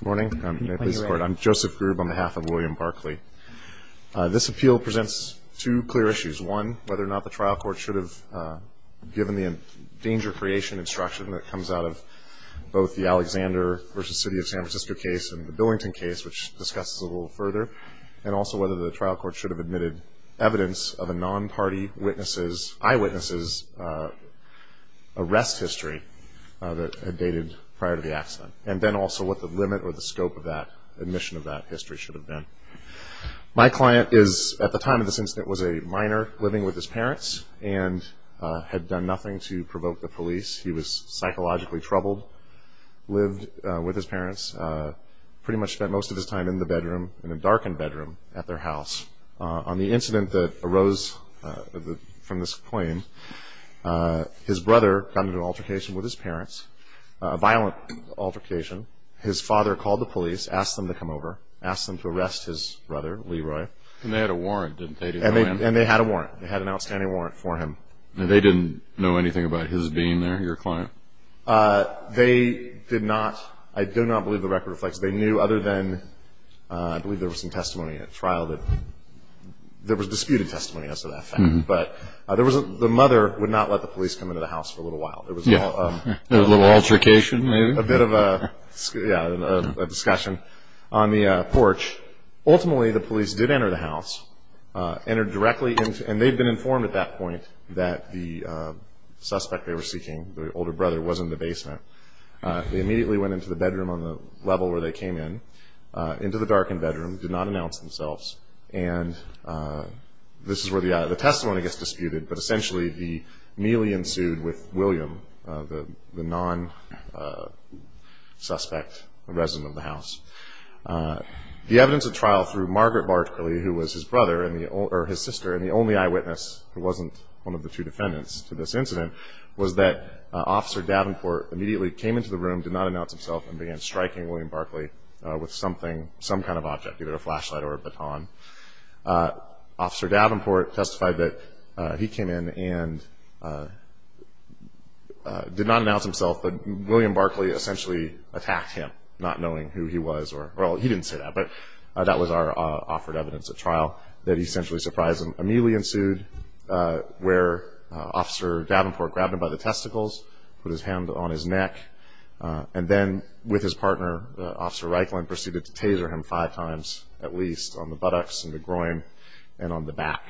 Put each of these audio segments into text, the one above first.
Good morning. I'm Joseph Grubb on behalf of William Barclay. This appeal presents two clear issues. One, whether or not the trial court should have given the danger creation instruction that comes out of both the Alexander v. City of San Francisco case and the Billington case, which discusses a little further, and also whether the trial court should have admitted evidence of a non-party eyewitness' arrest history that had dated prior to the accident. And then also what the limit or the scope of that admission of that history should have been. My client is, at the time of this incident, was a minor living with his parents and had done nothing to provoke the police. He was psychologically troubled, lived with his parents, pretty much spent most of his time in the bedroom, in a darkened bedroom at their house. On the incident that arose from this claim, his brother got into an altercation with his parents, a violent altercation. His father called the police, asked them to come over, asked them to arrest his brother, Leroy. And they had a warrant, didn't they? And they had a warrant. They had an outstanding warrant for him. And they didn't know anything about his being there, your client? They did not. I do not believe the record reflects. They knew other than I believe there was some testimony at trial that there was disputed testimony as to that fact. But the mother would not let the police come into the house for a little while. There was a little altercation, maybe? A bit of a discussion on the porch. Ultimately, the police did enter the house, entered directly into it. And they had been informed at that point that the suspect they were seeking, the older brother, was in the basement. They immediately went into the bedroom on the level where they came in, into the darkened bedroom, did not announce themselves. And this is where the testimony gets disputed. But essentially, he merely ensued with William, the non-suspect, the resident of the house. The evidence at trial through Margaret Barkley, who was his sister, and the only eyewitness who wasn't one of the two defendants to this incident, was that Officer Davenport immediately came into the room, did not announce himself, and began striking William Barkley with some kind of object, either a flashlight or a baton. Officer Davenport testified that he came in and did not announce himself, but William Barkley essentially attacked him, not knowing who he was. Well, he didn't say that, but that was our offered evidence at trial that essentially surprised him. Immediately ensued where Officer Davenport grabbed him by the testicles, put his hand on his neck. And then, with his partner, Officer Reikland, proceeded to taser him five times, at least, on the buttocks and the groin and on the back.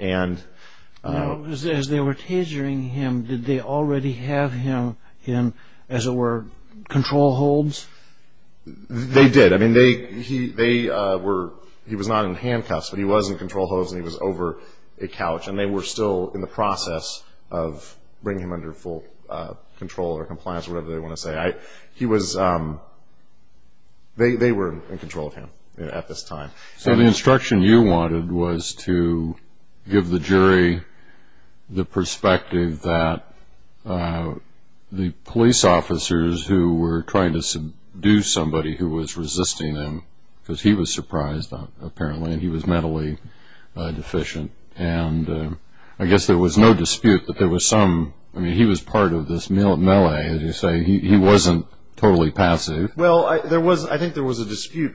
As they were tasering him, did they already have him in, as it were, control holds? They did. I mean, he was not in handcuffs, but he was in control holds and he was over a couch. And they were still in the process of bringing him under full control or compliance, whatever they want to say. They were in control of him at this time. So the instruction you wanted was to give the jury the perspective that the police officers who were trying to seduce somebody who was resisting him, because he was surprised, apparently, that he was mentally deficient. And I guess there was no dispute that there was some, I mean, he was part of this melee, as you say. He wasn't totally passive. Well, I think there was a dispute,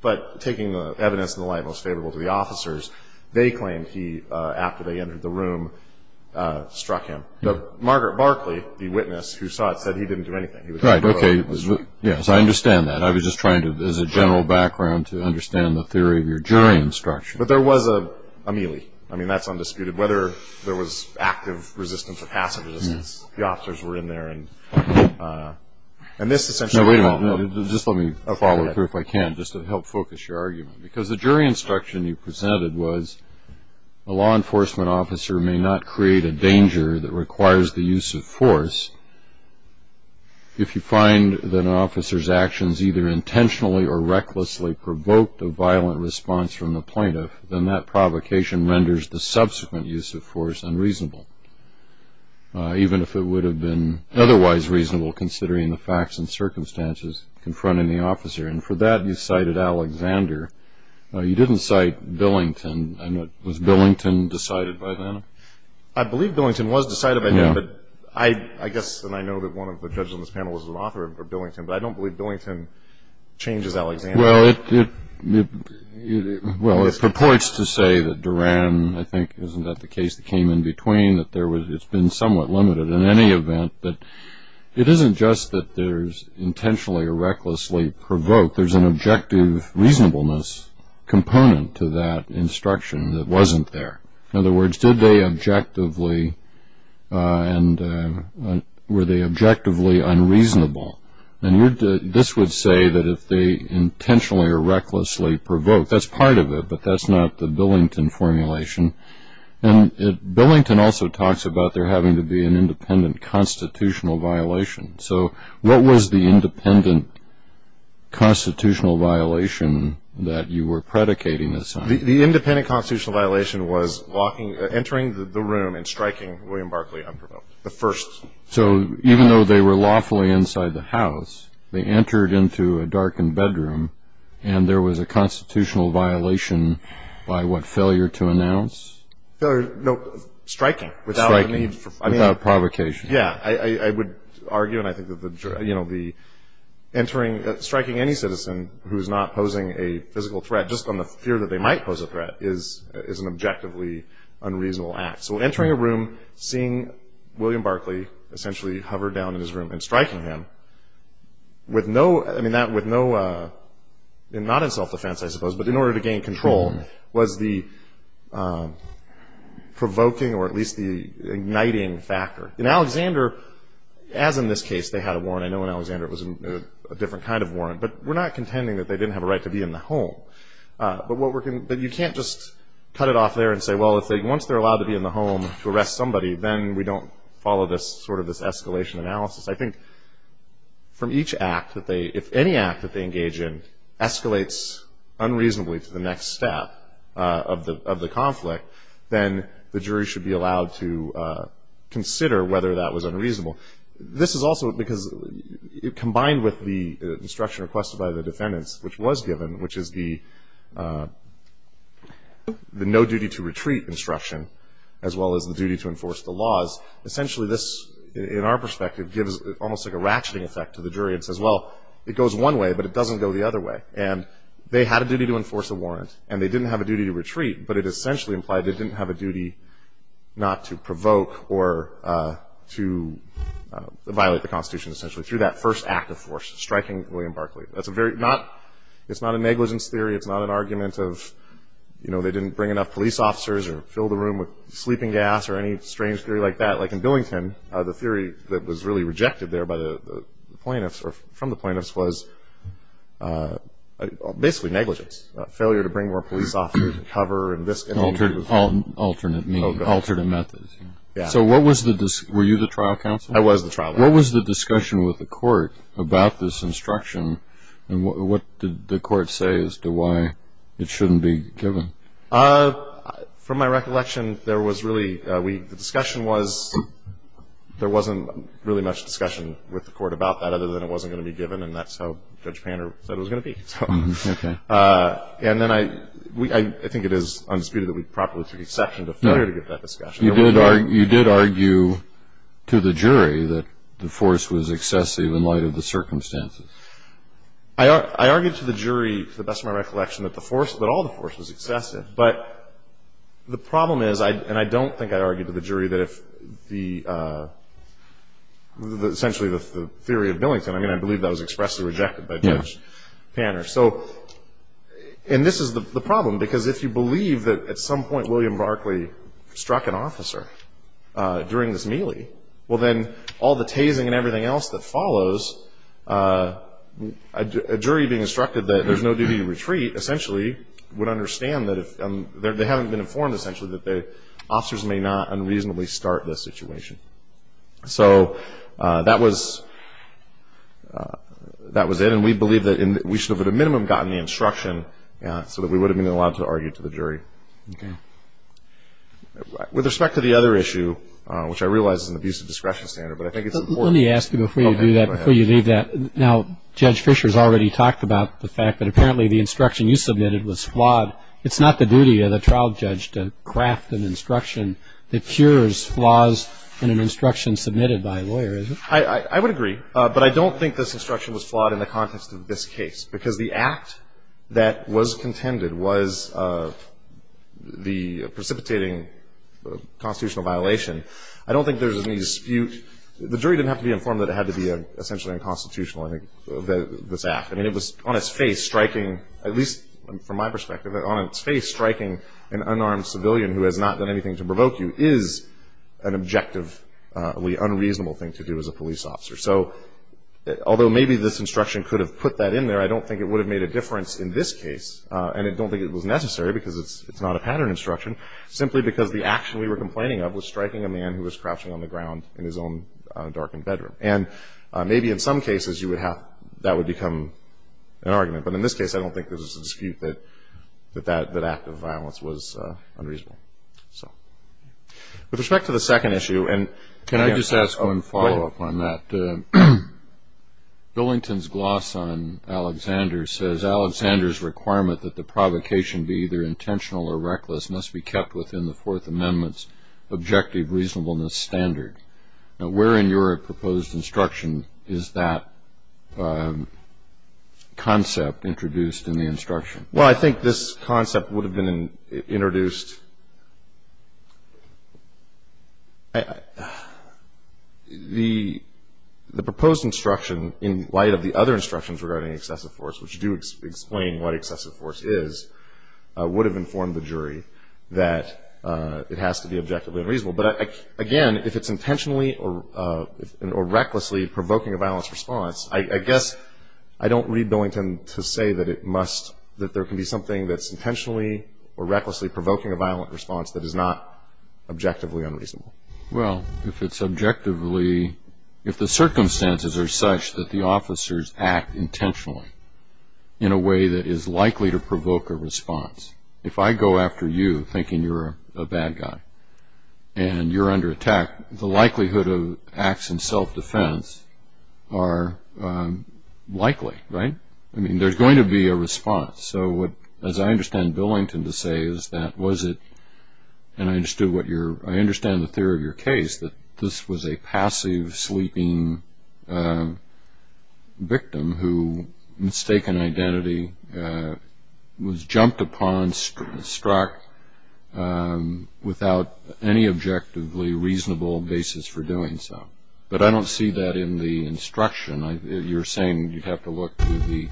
but taking the evidence in the light most favorable to the officers, they claimed he, after they entered the room, struck him. Margaret Barkley, the witness who saw it, said he didn't do anything. Right, okay. Yes, I understand that. I was just trying to, as a general background, to understand the theory of your jury instruction. But there was a melee. I mean, that's undisputed. Whether there was active resistance or passive resistance, the officers were in there. No, wait a minute. Just let me follow through if I can, just to help focus your argument. Because the jury instruction you presented was, a law enforcement officer may not create a danger that requires the use of force if you find that an officer's actions either intentionally or recklessly provoked a violent response from the plaintiff, then that provocation renders the subsequent use of force unreasonable, even if it would have been otherwise reasonable, considering the facts and circumstances confronting the officer. And for that, you cited Alexander. You didn't cite Billington. Was Billington decided by then? I believe Billington was decided by then, but I guess, and I know that one of the judges on this panel was an author of Billington, but I don't believe Billington changes Alexander. Well, it purports to say that Duran, I think, isn't that the case that came in between, that it's been somewhat limited in any event. But it isn't just that there's intentionally or recklessly provoked. There's an objective reasonableness component to that instruction that wasn't there. In other words, did they objectively and were they objectively unreasonable? And this would say that if they intentionally or recklessly provoked, that's part of it, but that's not the Billington formulation. And Billington also talks about there having to be an independent constitutional violation. So what was the independent constitutional violation that you were predicating this on? The independent constitutional violation was entering the room and striking William Barclay unprovoked, the first. So even though they were lawfully inside the house, they entered into a darkened bedroom and there was a constitutional violation by what failure to announce? No, striking without provocation. Yeah, I would argue, and I think that the entering, striking any citizen who's not posing a physical threat just on the fear that they might pose a threat is an objectively unreasonable act. So entering a room, seeing William Barclay essentially hover down in his room and striking him with no, not in self-defense, I suppose, but in order to gain control was the provoking or at least the igniting factor. In Alexander, as in this case, they had a warrant. I know in Alexander it was a different kind of warrant, but we're not contending that they didn't have a right to be in the home. But you can't just cut it off there and say, well, once they're allowed to be in the home to arrest somebody, then we don't follow this sort of escalation analysis. I think from each act that they, if any act that they engage in escalates unreasonably to the next step of the conflict, then the jury should be allowed to consider whether that was unreasonable. This is also because combined with the instruction requested by the defendants, which was given, which is the no-duty-to-retreat instruction as well as the duty to enforce the laws, essentially this, in our perspective, gives almost like a ratcheting effect to the jury and says, well, it goes one way, but it doesn't go the other way. And they had a duty to enforce a warrant, and they didn't have a duty to retreat, but it essentially implied they didn't have a duty not to provoke or to violate the Constitution essentially through that first act of force, striking William Barclay. It's not a negligence theory. It's not an argument of they didn't bring enough police officers or fill the room with sleeping gas or any strange theory like that. Like in Billington, the theory that was really rejected there by the plaintiffs or from the plaintiffs was basically negligence, failure to bring more police officers to cover. Alternate methods. So were you the trial counsel? I was the trial counsel. What was the discussion with the court about this instruction, and what did the court say as to why it shouldn't be given? From my recollection, the discussion was there wasn't really much discussion with the court about that other than it wasn't going to be given, and that's how Judge Panner said it was going to be. And then I think it is undisputed that we properly took exception to failure to give that discussion. You did argue to the jury that the force was excessive in light of the circumstances. I argued to the jury, to the best of my recollection, that all the force was excessive. But the problem is, and I don't think I argued to the jury, that essentially the theory of Billington, and I believe that was expressly rejected by Judge Panner. And this is the problem, because if you believe that at some point William Barclay struck an officer during this melee, well then all the tasing and everything else that follows, a jury being instructed that there's no duty to retreat, essentially would understand that if they haven't been informed essentially that the officers may not unreasonably start this situation. So that was it. And we believe that we should have at a minimum gotten the instruction so that we would have been allowed to argue to the jury. With respect to the other issue, which I realize is an abusive discretion standard, but I think it's important. Let me ask you before you do that, before you leave that, now Judge Fischer has already talked about the fact that apparently the instruction you submitted was flawed. It's not the duty of the trial judge to craft an instruction that cures flaws in an instruction submitted by a lawyer, is it? I would agree. But I don't think this instruction was flawed in the context of this case, because the act that was contended was the precipitating constitutional violation. I don't think there's any dispute. The jury didn't have to be informed that it had to be essentially unconstitutional, I think, this act. I mean, it was on its face striking, at least from my perspective, on its face striking an unarmed civilian who has not done anything to provoke you is an objectively unreasonable thing to do as a police officer. So although maybe this instruction could have put that in there, I don't think it would have made a difference in this case, and I don't think it was necessary because it's not a pattern instruction, simply because the action we were complaining of was striking a man who was crouching on the ground in his own darkened bedroom. And maybe in some cases that would become an argument, but in this case I don't think there's a dispute that that act of violence was unreasonable. With respect to the second issue, and can I just ask one follow-up on that? Billington's gloss on Alexander says, Alexander's requirement that the provocation be either intentional or reckless must be kept within the Fourth Amendment's objective reasonableness standard. Now where in your proposed instruction is that concept introduced in the instruction? Well, I think this concept would have been introduced, the proposed instruction in light of the other instructions regarding excessive force, which do explain what excessive force is, would have informed the jury that it has to be objectively unreasonable. But again, if it's intentionally or recklessly provoking a violence response, I guess I don't read Billington to say that it must, that there can be something that's intentionally or recklessly provoking a violent response that is not objectively unreasonable. Well, if it's objectively, if the circumstances are such that the officers act intentionally in a way that is likely to provoke a response, if I go after you thinking you're a bad guy and you're under attack, the likelihood of acts in self-defense are likely, right? I mean, there's going to be a response. So what, as I understand Billington to say, is that was it, and I understand the theory of your case, that this was a passive sleeping victim who, mistaken identity, was jumped upon, struck, without any objectively reasonable basis for doing so. But I don't see that in the instruction. You're saying you'd have to look to the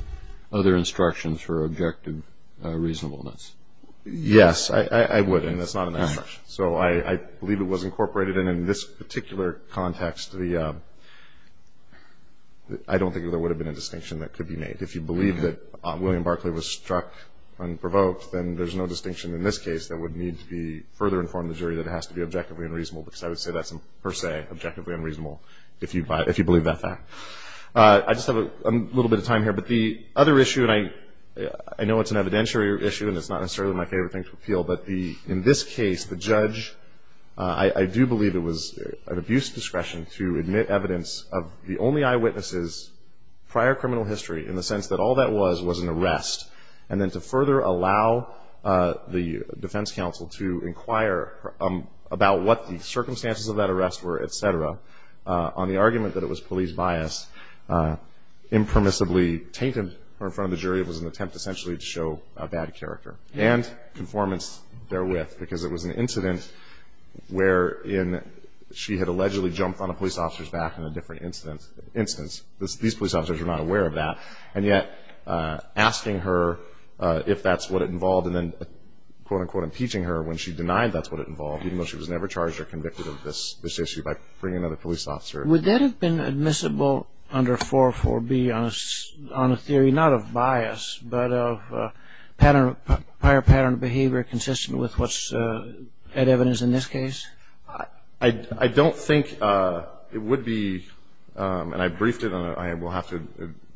other instructions for objective reasonableness. Yes, I would, and it's not in that instruction. So I believe it was incorporated, and in this particular context, I don't think there would have been a distinction that could be made. If you believe that William Barclay was struck unprovoked, then there's no distinction in this case that would need to be further informed the jury that it has to be objectively unreasonable, because I would say that's per se objectively unreasonable, if you believe that fact. I just have a little bit of time here, but the other issue, and I know it's an evidentiary issue and it's not necessarily my favorite thing to appeal, but in this case, the judge, I do believe it was an abuse discretion to admit evidence of the only eyewitnesses, prior criminal history, in the sense that all that was was an arrest, and then to further allow the defense counsel to inquire about what the circumstances of that arrest were, et cetera, on the argument that it was police bias, impermissibly tainted her in front of the jury. It was an attempt, essentially, to show a bad character and conformance therewith, because it was an incident wherein she had allegedly jumped on a police officer's back in a different instance. These police officers were not aware of that, and yet asking her if that's what it involved and then, quote, unquote, impeaching her when she denied that's what it involved, even though she was never charged or convicted of this issue by bringing another police officer. Would that have been admissible under 404B on a theory not of bias, but of prior pattern of behavior consistent with what's evidence in this case? I don't think it would be, and I briefed it, and I will have to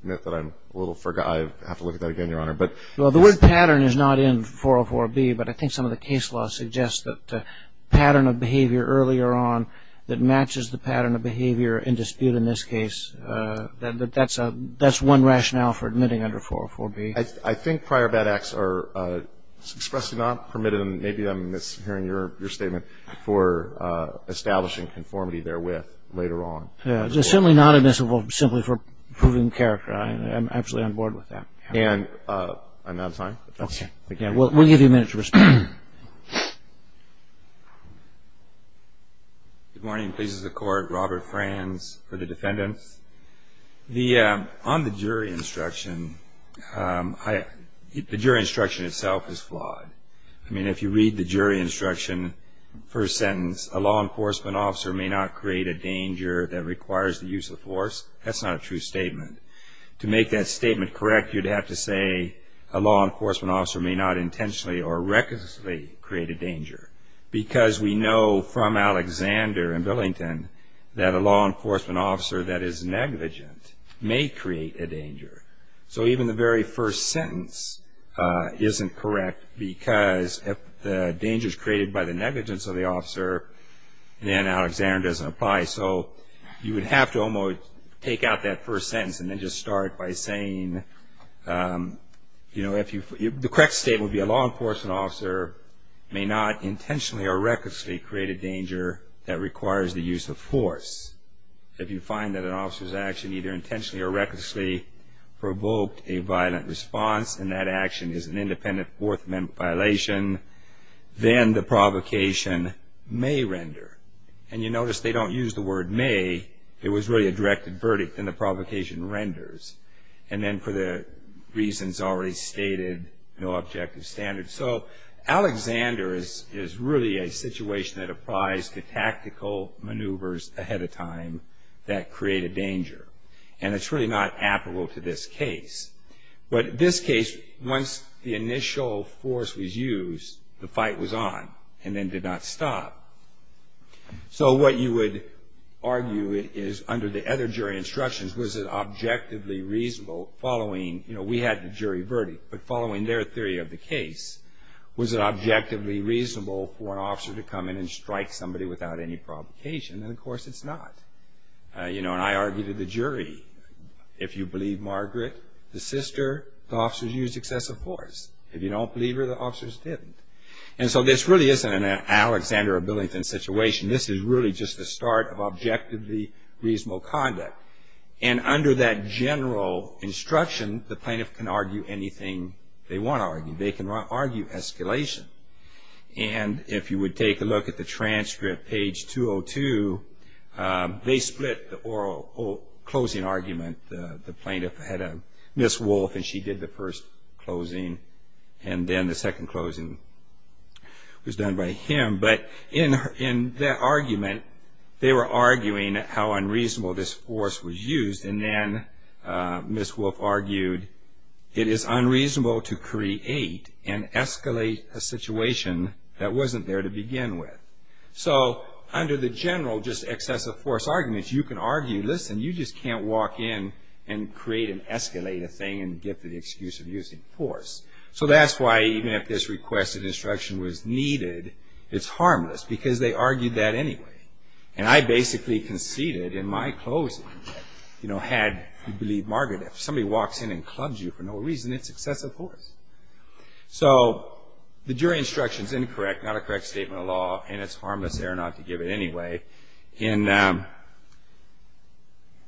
admit that I'm a little forgetful. I have to look at that again, Your Honor. Well, the word pattern is not in 404B, but I think some of the case law suggests that pattern of behavior earlier on that matches the pattern of behavior in dispute in this case, that that's one rationale for admitting under 404B. I think prior bad acts are expressly not permitted, and maybe I'm mishearing your statement for establishing conformity therewith later on. It's simply not admissible simply for proving character. I'm absolutely on board with that. I'm out of time. Okay. We'll give you a minute to respond. Good morning. This is the Court. Robert Franz for the defendants. On the jury instruction, the jury instruction itself is flawed. I mean, if you read the jury instruction, first sentence, a law enforcement officer may not create a danger that requires the use of force. That's not a true statement. To make that statement correct, you'd have to say a law enforcement officer may not intentionally or recklessly create a danger, because we know from Alexander in Billington that a law enforcement officer that is negligent may create a danger. So even the very first sentence isn't correct, because if the danger is created by the negligence of the officer, then Alexander doesn't apply. So you would have to almost take out that first sentence and then just start by saying, you know, the correct statement would be a law enforcement officer may not intentionally or recklessly create a danger that requires the use of force. If you find that an officer's action either intentionally or recklessly provoked a violent response and that action is an independent fourth amendment violation, then the provocation may render. And you notice they don't use the word may. It was really a directed verdict, and the provocation renders. And then for the reasons already stated, no objective standards. So Alexander is really a situation that applies to tactical maneuvers ahead of time that create a danger. And it's really not applicable to this case. But this case, once the initial force was used, the fight was on and then did not stop. So what you would argue is under the other jury instructions, was it objectively reasonable following, you know, we had the jury verdict, but following their theory of the case, was it objectively reasonable for an officer to come in and strike somebody without any provocation? And, of course, it's not. You know, and I argue to the jury, if you believe Margaret, the sister, the officers used excessive force. If you don't believe her, the officers didn't. And so this really isn't an Alexander or Billington situation. This is really just the start of objectively reasonable conduct. And under that general instruction, the plaintiff can argue anything they want to argue. They can argue escalation. And if you would take a look at the transcript, page 202, they split the closing argument. The plaintiff had Ms. Wolfe, and she did the first closing, and then the second closing was done by him. But in that argument, they were arguing how unreasonable this force was used, and then Ms. Wolfe argued it is unreasonable to create and escalate a situation that wasn't there to begin with. So under the general just excessive force arguments, you can argue, listen, you just can't walk in and create and escalate a thing and give the excuse of using force. So that's why even if this requested instruction was needed, it's harmless, because they argued that anyway. And I basically conceded in my closing that had, if you believe Margaret, if somebody walks in and clubs you for no reason, it's excessive force. So the jury instruction is incorrect, not a correct statement of law, and it's harmless there not to give it anyway. In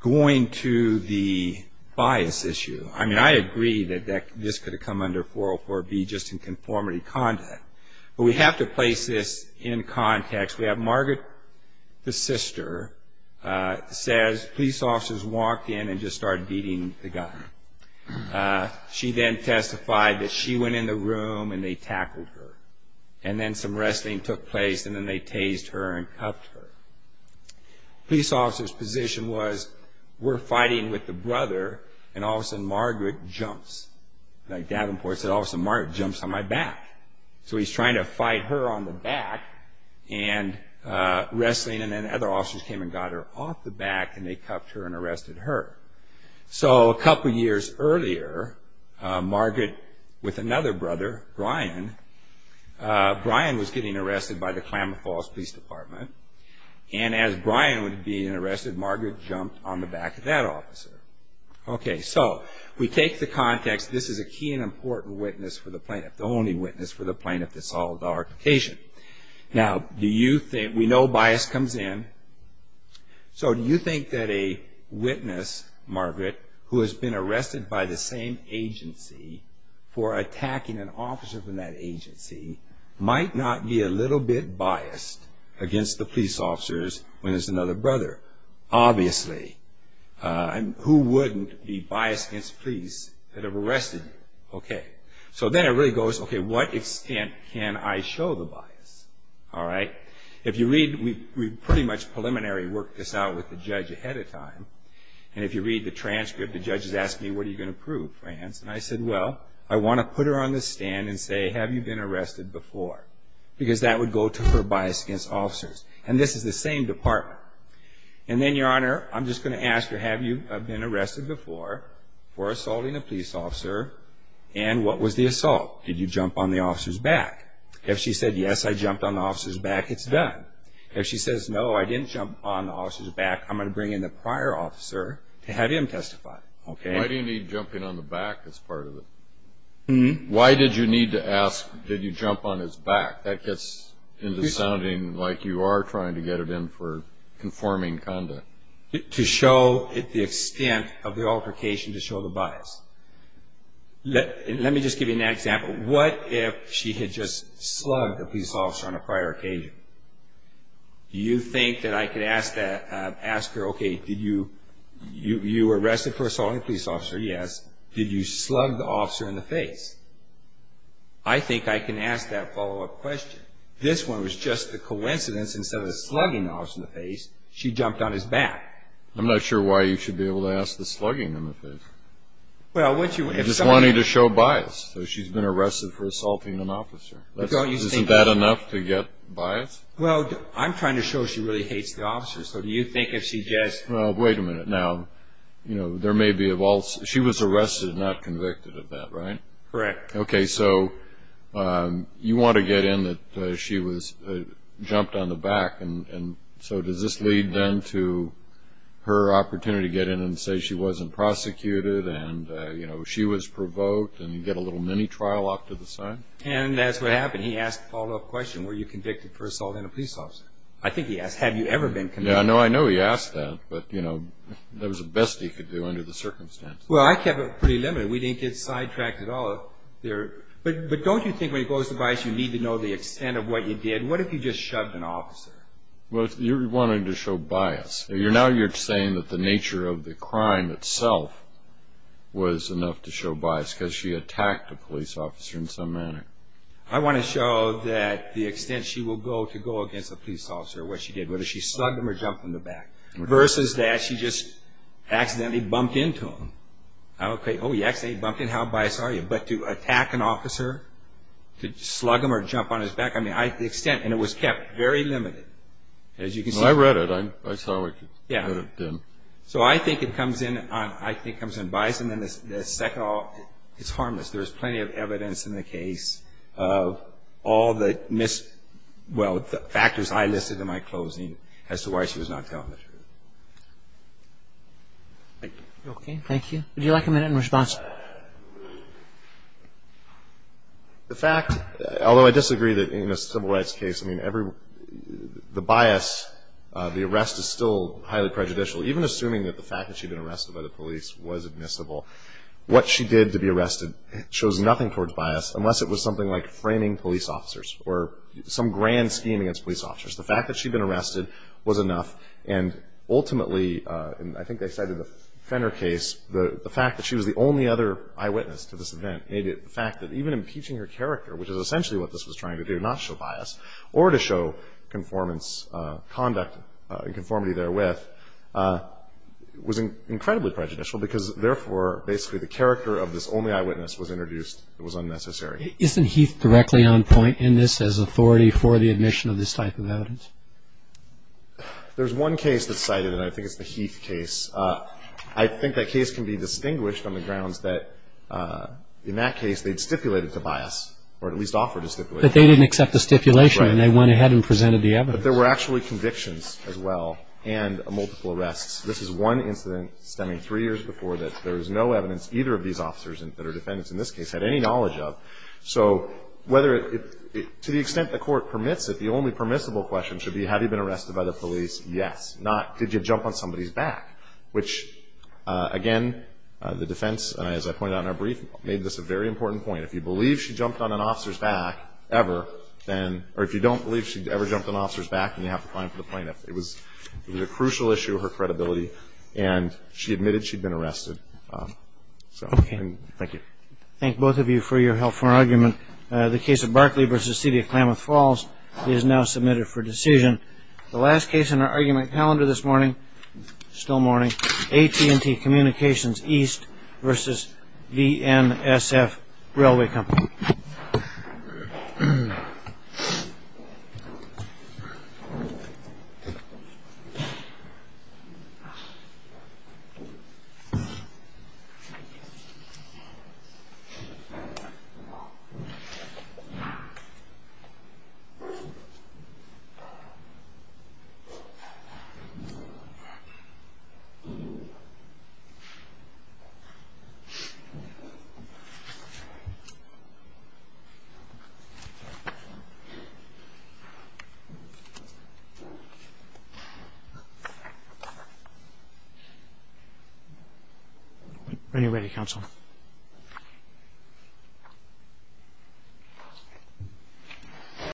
going to the bias issue, I mean, I agree that this could have come under 404B just in conformity conduct, but we have to place this in context. We have Margaret, the sister, says police officers walked in and just started beating the guy. She then testified that she went in the room and they tackled her, and then some wrestling took place, and then they tased her and cuffed her. Police officers' position was, we're fighting with the brother, and all of a sudden Margaret jumps. Like Davenport said, all of a sudden Margaret jumps on my back. So he's trying to fight her on the back, and wrestling, and then other officers came and got her off the back, and they cuffed her and arrested her. So a couple of years earlier, Margaret, with another brother, Brian, Brian was getting arrested by the Klamath Falls Police Department, and as Brian was being arrested, Margaret jumped on the back of that officer. Okay, so we take the context, this is a key and important witness for the plaintiff, the only witness for the plaintiff that solved the altercation. Now, we know bias comes in. So do you think that a witness, Margaret, who has been arrested by the same agency for attacking an officer from that agency, might not be a little bit biased against the police officers when it's another brother? Obviously. Who wouldn't be biased against police that have arrested you? Okay. So then it really goes, okay, what extent can I show the bias? All right? If you read, we pretty much preliminary worked this out with the judge ahead of time, and if you read the transcript, the judge has asked me, what are you going to prove, France? And I said, well, I want to put her on the stand and say, have you been arrested before? Because that would go to her bias against officers. And this is the same department. And then, Your Honor, I'm just going to ask her, have you been arrested before for assaulting a police officer, and what was the assault? Did you jump on the officer's back? If she said, yes, I jumped on the officer's back, it's done. If she says, no, I didn't jump on the officer's back, I'm going to bring in the prior officer to have him testify. Why do you need jumping on the back as part of it? Why did you need to ask, did you jump on his back? That gets into sounding like you are trying to get it in for conforming conduct. To show the extent of the altercation to show the bias. Let me just give you an example. What if she had just slugged a police officer on a prior occasion? Do you think that I could ask her, okay, you were arrested for assaulting a police officer, yes. Did you slug the officer in the face? I think I can ask that follow-up question. This one was just a coincidence. Instead of slugging the officer in the face, she jumped on his back. I'm not sure why you should be able to ask the slugging in the face. I'm just wanting to show bias. She's been arrested for assaulting an officer. Isn't that enough to get bias? I'm trying to show she really hates the officer. Wait a minute now. She was arrested and not convicted of that, right? Correct. Okay, so you want to get in that she jumped on the back. So does this lead then to her opportunity to get in and say she wasn't prosecuted and she was provoked and get a little mini-trial off to the side? And that's what happened. He asked a follow-up question. Were you convicted for assaulting a police officer? I think he asked, have you ever been convicted? I know he asked that, but that was the best he could do under the circumstances. Well, I kept it pretty limited. We didn't get sidetracked at all. But don't you think when it goes to bias you need to know the extent of what you did? What if you just shoved an officer? Well, you're wanting to show bias. Now you're saying that the nature of the crime itself was enough to show bias because she attacked a police officer in some manner. I want to show that the extent she will go to go against a police officer, what she did, whether she slugged him or jumped on his back, versus that she just accidentally bumped into him. Oh, you accidentally bumped into him, how biased are you? But to attack an officer, to slug him or jump on his back, I mean, the extent, and it was kept very limited. As you can see. I read it. I saw what it could have been. So I think it comes in on bias, and then the second, it's harmless. There's plenty of evidence in the case of all the factors I listed in my closing as to why she was not telling the truth. Thank you. Would you like a minute in response? The fact, although I disagree that in a civil rights case, I mean, the bias, the arrest is still highly prejudicial. Even assuming that the fact that she'd been arrested by the police was admissible, what she did to be arrested shows nothing towards bias unless it was something like framing police officers or some grand scheme against police officers. The fact that she'd been arrested was enough, and ultimately, and I think they cited the Fenner case, the fact that she was the only other eyewitness to this event, the fact that even impeaching her character, which is essentially what this was trying to do, not show bias, or to show conformance, conduct and conformity therewith, was incredibly prejudicial because therefore basically the character of this only eyewitness was introduced. It was unnecessary. Isn't Heath directly on point in this as authority for the admission of this type of evidence? There's one case that's cited, and I think it's the Heath case. I think that case can be distinguished on the grounds that in that case they'd stipulated to bias or at least offered to stipulate bias. But they didn't accept the stipulation. Right. And they went ahead and presented the evidence. But there were actually convictions as well and multiple arrests. This is one incident stemming three years before that. There is no evidence either of these officers that are defendants in this case had any knowledge of. So whether to the extent the court permits it, the only permissible question should be have you been arrested by the police? Yes. Not did you jump on somebody's back, which, again, the defense, as I pointed out in our brief, made this a very important point. If you believe she jumped on an officer's back ever, or if you don't believe she ever jumped on an officer's back, then you have to find the plaintiff. It was a crucial issue, her credibility, and she admitted she'd been arrested. Okay. Thank you. Thank both of you for your help for our argument. The case of Barkley v. City of Klamath Falls is now submitted for decision. The last case in our argument calendar this morning, still morning, Ready, ready, counsel. Thank you.